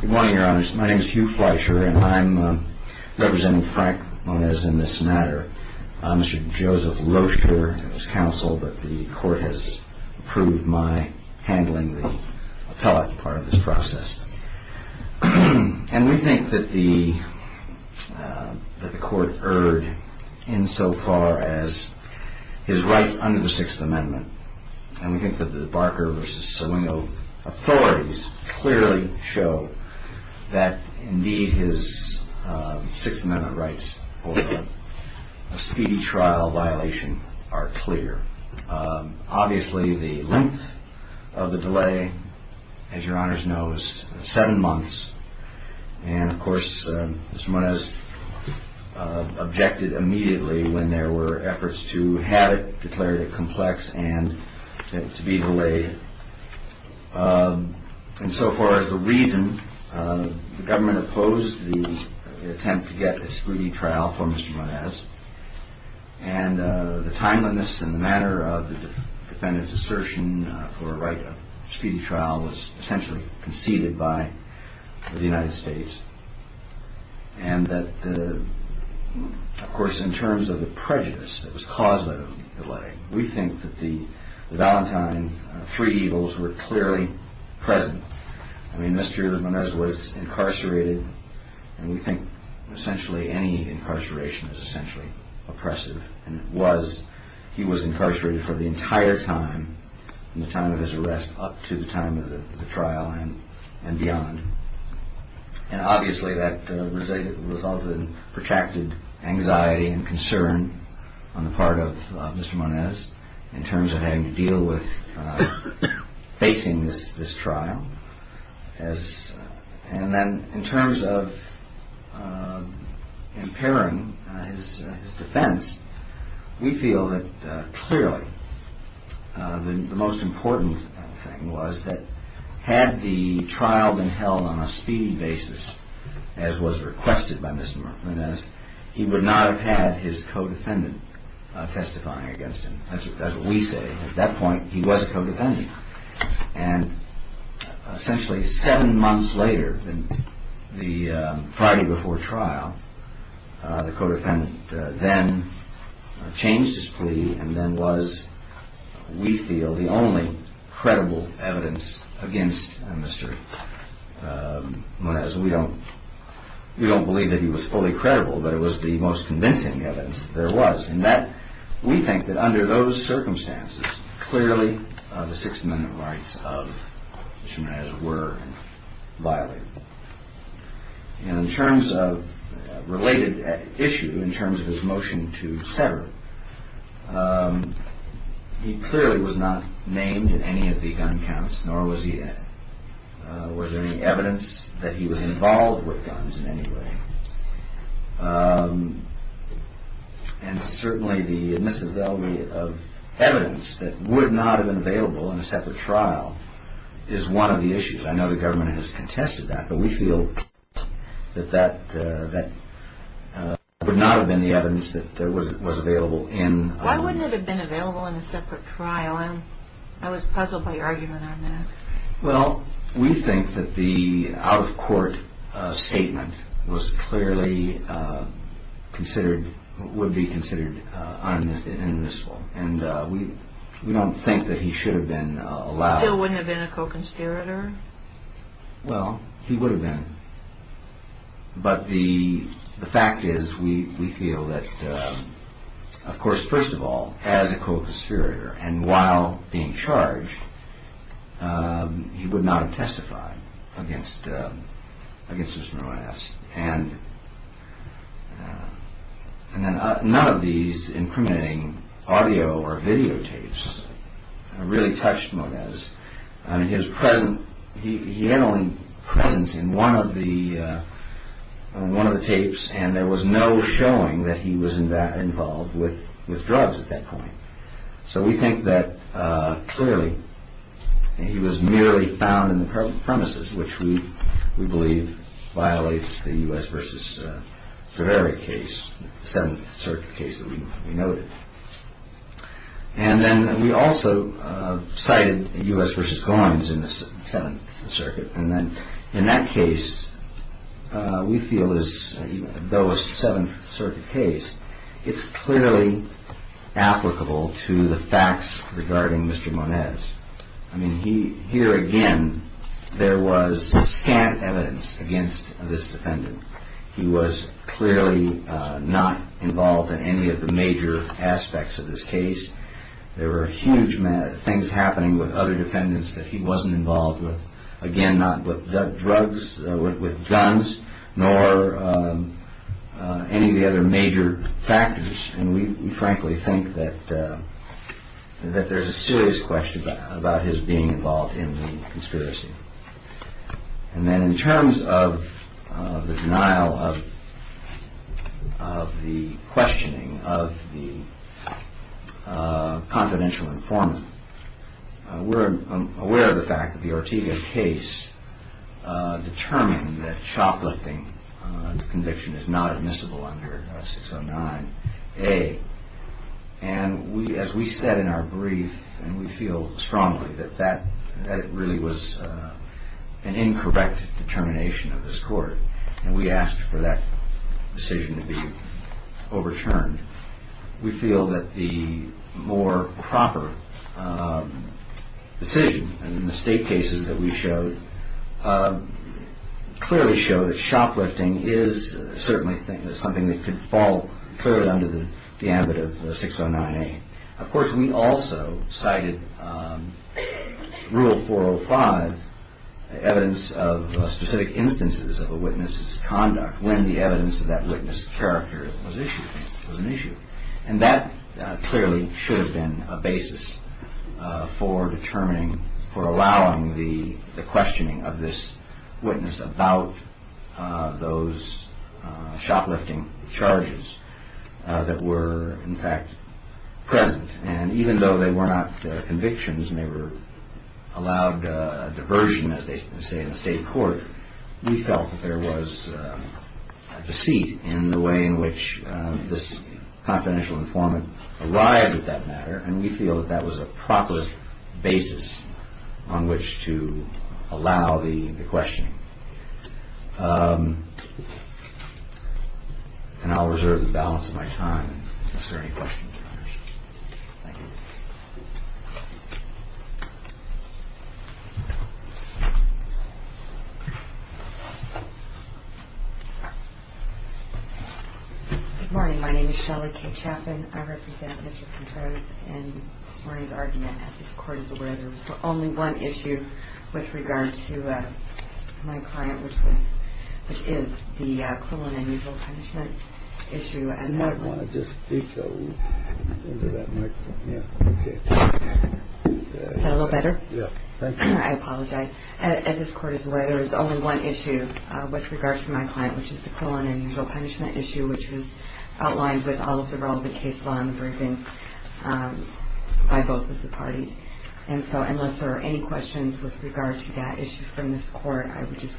Good morning, your honors. My name is Hugh Fleischer, and I'm representing Frank Moniz in this matter. Mr. Joseph Rocher is counsel, but the court has approved my handling the appellate part of this process. And we think that the court erred insofar as his rights under the Sixth Amendment. And we think that the Barker v. Sawingo authorities clearly show that, indeed, his Sixth Amendment rights over a speedy trial violation are clear. Obviously, the length of the delay, as your honors know, is seven months. And, of course, Mr. Moniz objected immediately when there were efforts to have it declared a complex and to be delayed. And so far as the reason, the government opposed the attempt to get a speedy trial for Mr. Moniz. And the timeliness and the manner of the defendant's assertion for a right of speedy trial was essentially conceded by the United States. And that, of course, in terms of the prejudice that was caused by the delay, we think that the Valentine three evils were clearly present. I mean, Mr. Moniz was incarcerated, and we think essentially any incarceration is essentially oppressive. And it was. He was incarcerated for the entire time, from the time of his arrest up to the time of the trial and beyond. And obviously that resulted in protracted anxiety and concern on the part of Mr. Moniz in terms of having to deal with facing this trial. And then in terms of impairing his defense, we feel that clearly the most important thing was that had the trial been held on a speedy basis, as was requested by Mr. Moniz, he would not have had his co-defendant testifying against him. That's what we say. At that point, he was a co-defendant. And essentially seven months later, the Friday before trial, the co-defendant then changed his plea and then was, we feel, the only credible evidence against Mr. Moniz. We don't we don't believe that he was fully credible, but it was the most convincing evidence there was. And that we think that under those circumstances, clearly the Sixth Amendment rights of Mr. Moniz were violated. And in terms of related issue, in terms of his motion to sever, he clearly was not named in any of the gun counts, nor was there any evidence that he was involved with guns in any way. And certainly the misavailability of evidence that would not have been available in a separate trial is one of the issues. I know the government has contested that, but we feel that that would not have been the evidence that was available in. Why wouldn't it have been available in a separate trial? I was puzzled by your argument on that. Well, we think that the out-of-court statement was clearly considered, would be considered unmissable. And we don't think that he should have been allowed. He still wouldn't have been a co-conspirator? Well, he would have been. But the fact is, we feel that, of course, first of all, as a co-conspirator, and while being charged, he would not have testified against Mr. Moniz. And none of these incriminating audio or video tapes really touched Moniz. His presence, he had only presence in one of the tapes, and there was no showing that he was involved with drugs at that point. So we think that, clearly, he was merely found in the premises, which we believe violates the U.S. v. Severi case, the Seventh Circuit case that we noted. And then we also cited U.S. v. Goynes in the Seventh Circuit. And then in that case, we feel as though a Seventh Circuit case, it's clearly applicable to the facts regarding Mr. Moniz. I mean, here again, there was scant evidence against this defendant. He was clearly not involved in any of the major aspects of this case. There were huge things happening with other defendants that he wasn't involved with. Again, not with drugs, with guns, nor any of the other major factors. And we frankly think that there's a serious question about his being involved in the conspiracy. And then in terms of the denial of the questioning of the confidential informant, we're aware of the fact that the Ortega case determined that shoplifting under conviction is not admissible under 609A. And as we said in our brief, and we feel strongly that that really was an incorrect determination of this court, and we asked for that decision to be overturned, we feel that the more proper decision in the state cases that we showed clearly showed that shoplifting is certainly something that could fall clearly under the ambit of 609A. Of course, we also cited Rule 405, evidence of specific instances of a witness's conduct when the evidence of that witness's character was an issue. And that clearly should have been a basis for determining, for allowing the questioning of this witness about those shoplifting charges that were in fact present. And even though they were not convictions and they were allowed diversion, as they say in the state court, we felt that there was a deceit in the way in which this confidential informant arrived at that matter, and we feel that that was a proper basis on which to allow the questioning. And I'll reserve the balance of my time if there are any questions. Good morning, my name is Shelly K. Chaffin. I represent Mr. Contreras in this morning's argument. As this court is aware, there's only one issue with regard to my client, which is the criminal punishment issue. And I want to just speak a little better. I apologize. As this court is aware, there is only one issue with regard to my client, which is the criminal and usual punishment issue, which was outlined with all of the relevant case law in the briefings by both of the parties. And so unless there are any questions with regard to that issue from this court, I would just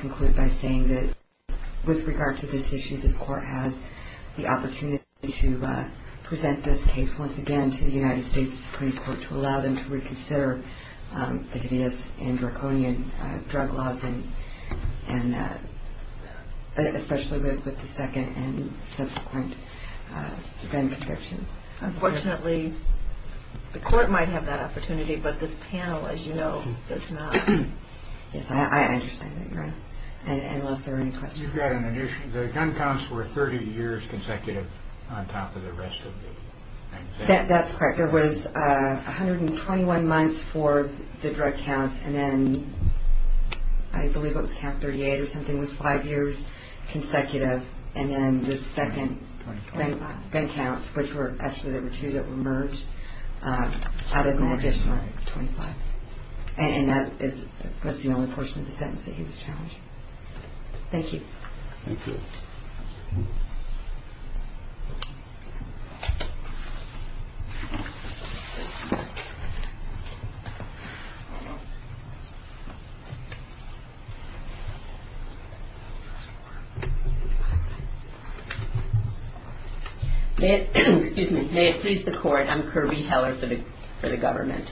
conclude by saying that with regard to this issue, this court has the opportunity to present this case once again to the United States Supreme Court to allow them to reconsider the hideous and draconian drug laws, and especially with the second and subsequent gun protections. Unfortunately, the court might have that opportunity, but this panel, as you know, does not. Yes, I understand that, Your Honor, unless there are any questions. You've got an addition. The gun counts were 30 years consecutive on top of the rest of the things. That's correct. There was 121 months for the drug counts, and then I believe it was count 38 or something was five years consecutive, and then the second gun counts, which were actually there were two that were merged, added an additional 25, and that was the only portion of the sentence that he was challenged. Thank you. Excuse me. May it please the court. I'm Kirby Heller for the government.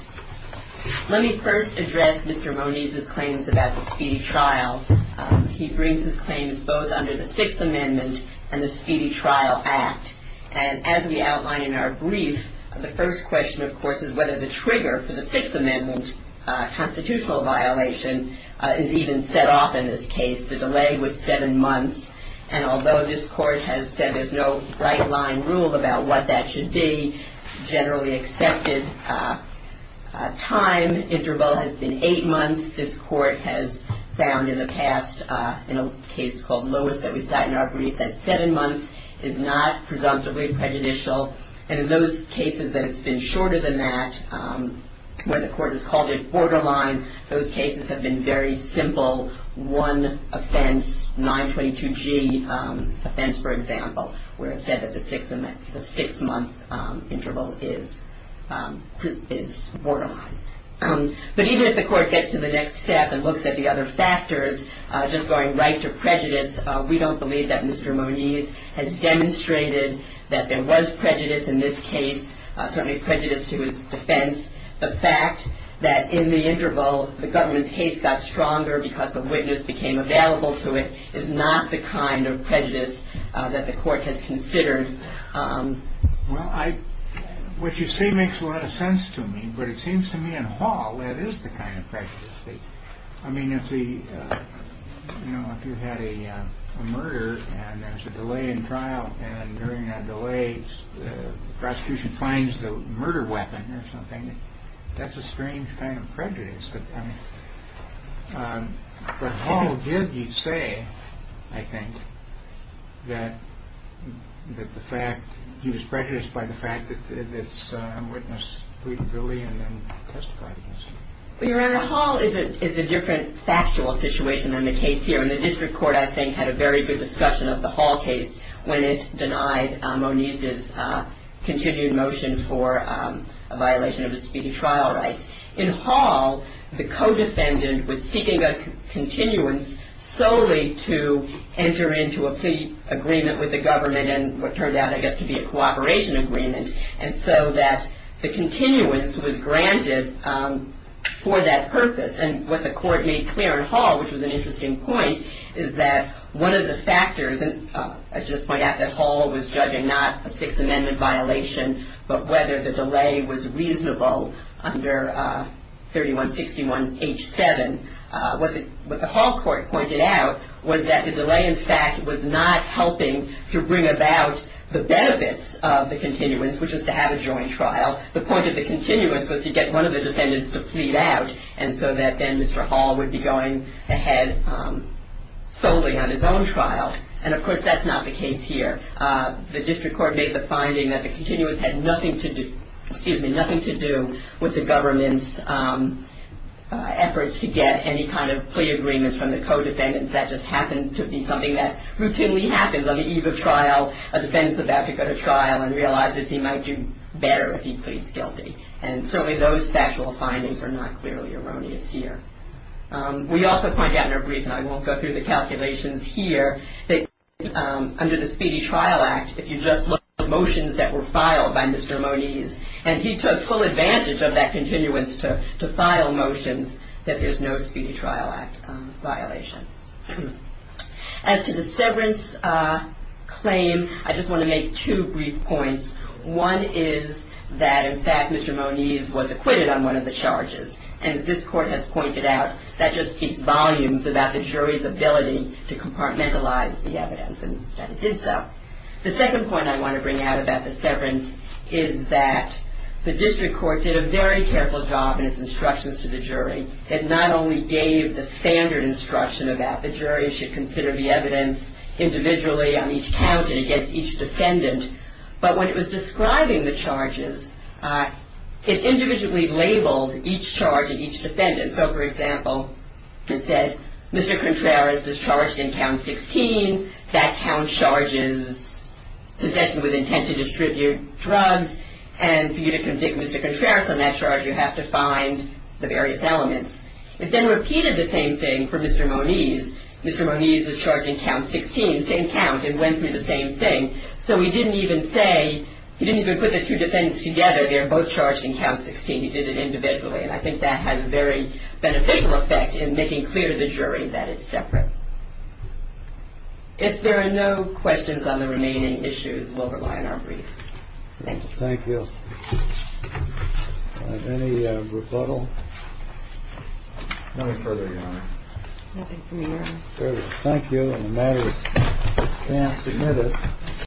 Let me first address Mr. Moniz's claims about the speedy trial. He brings his claims both under the Sixth Amendment and the Speedy Trial Act, and as we outline in our brief, the first question, of course, is whether the trigger for the Sixth Amendment constitutional violation is even set off in this case. The delay was seven months, and although this court has said there's no right-line rule about what that should be, the generally accepted time interval has been eight months. This court has found in the past in a case called Lois that we cite in our brief that seven months is not presumptively prejudicial, and in those cases that it's been shorter than that, where the court has called it borderline, those cases have been very simple, one offense, 922G offense, for example, where it's said that the six-month interval is borderline. But even if the court gets to the next step and looks at the other factors, just going right to prejudice, we don't believe that Mr. Moniz has demonstrated that there was prejudice in this case, certainly prejudice to his defense. The fact that in the interval the government's case got stronger because a witness became available to it is not the kind of prejudice that the court has considered. Well, what you say makes a lot of sense to me, but it seems to me in Hall that is the kind of prejudice. I mean, if you had a murder and there's a delay in trial, and during that delay the prosecution finds the murder weapon or something, that's a strange kind of prejudice. But Hall did, you'd say, I think, that the fact he was prejudiced by the fact that this witness pleaded guilty and then testified against him. Well, Your Honor, Hall is a different factual situation than the case here, and the district court, I think, had a very good discussion of the Hall case when it denied Moniz's continued motion for a violation of his speedy trial rights. In Hall, the co-defendant was seeking a continuance solely to enter into a plea agreement with the government and what turned out, I guess, to be a cooperation agreement, and so that the continuance was granted for that purpose. And what the court made clear in Hall, which was an interesting point, is that one of the factors, and I should just point out that Hall was judging not a Sixth Amendment violation, but whether the delay was reasonable under 3161H7. What the Hall court pointed out was that the delay, in fact, was not helping to bring about the benefits of the continuance, which is to have a joint trial. The point of the continuance was to get one of the defendants to plead out, and so that then Mr. Hall would be going ahead solely on his own trial. And, of course, that's not the case here. The district court made the finding that the continuance had nothing to do with the government's efforts to get any kind of plea agreements from the co-defendants. That just happened to be something that routinely happens on the eve of trial, a defendant's about to go to trial and realizes he might do better if he pleads guilty. And certainly those factual findings are not clearly erroneous here. We also point out in our brief, and I won't go through the calculations here, that under the Speedy Trial Act, if you just look at motions that were filed by Mr. Moniz, and he took full advantage of that continuance to file motions, that there's no Speedy Trial Act violation. As to the severance claim, I just want to make two brief points. One is that, in fact, Mr. Moniz was acquitted on one of the charges. And as this court has pointed out, that just speaks volumes about the jury's ability to compartmentalize the evidence, and that it did so. The second point I want to bring out about the severance is that the district court did a very careful job in its instructions to the jury. It not only gave the standard instruction about the jury should consider the evidence individually on each county against each defendant, but when it was describing the charges, it individually labeled each charge and each defendant. So, for example, it said Mr. Contreras is charged in count 16. That count charges possession with intent to distribute drugs. And for you to convict Mr. Contreras on that charge, you have to find the various elements. It then repeated the same thing for Mr. Moniz. Mr. Moniz is charged in count 16, same count, and went through the same thing. So he didn't even say, he didn't even put the two defendants together. They're both charged in count 16. He did it individually. And I think that has a very beneficial effect in making clear to the jury that it's separate. If there are no questions on the remaining issues, we'll rely on our brief. Thank you. Thank you. Any rebuttal? No further, Your Honor. Nothing from the Your Honor. Fair enough. Thank you. The matter is now submitted.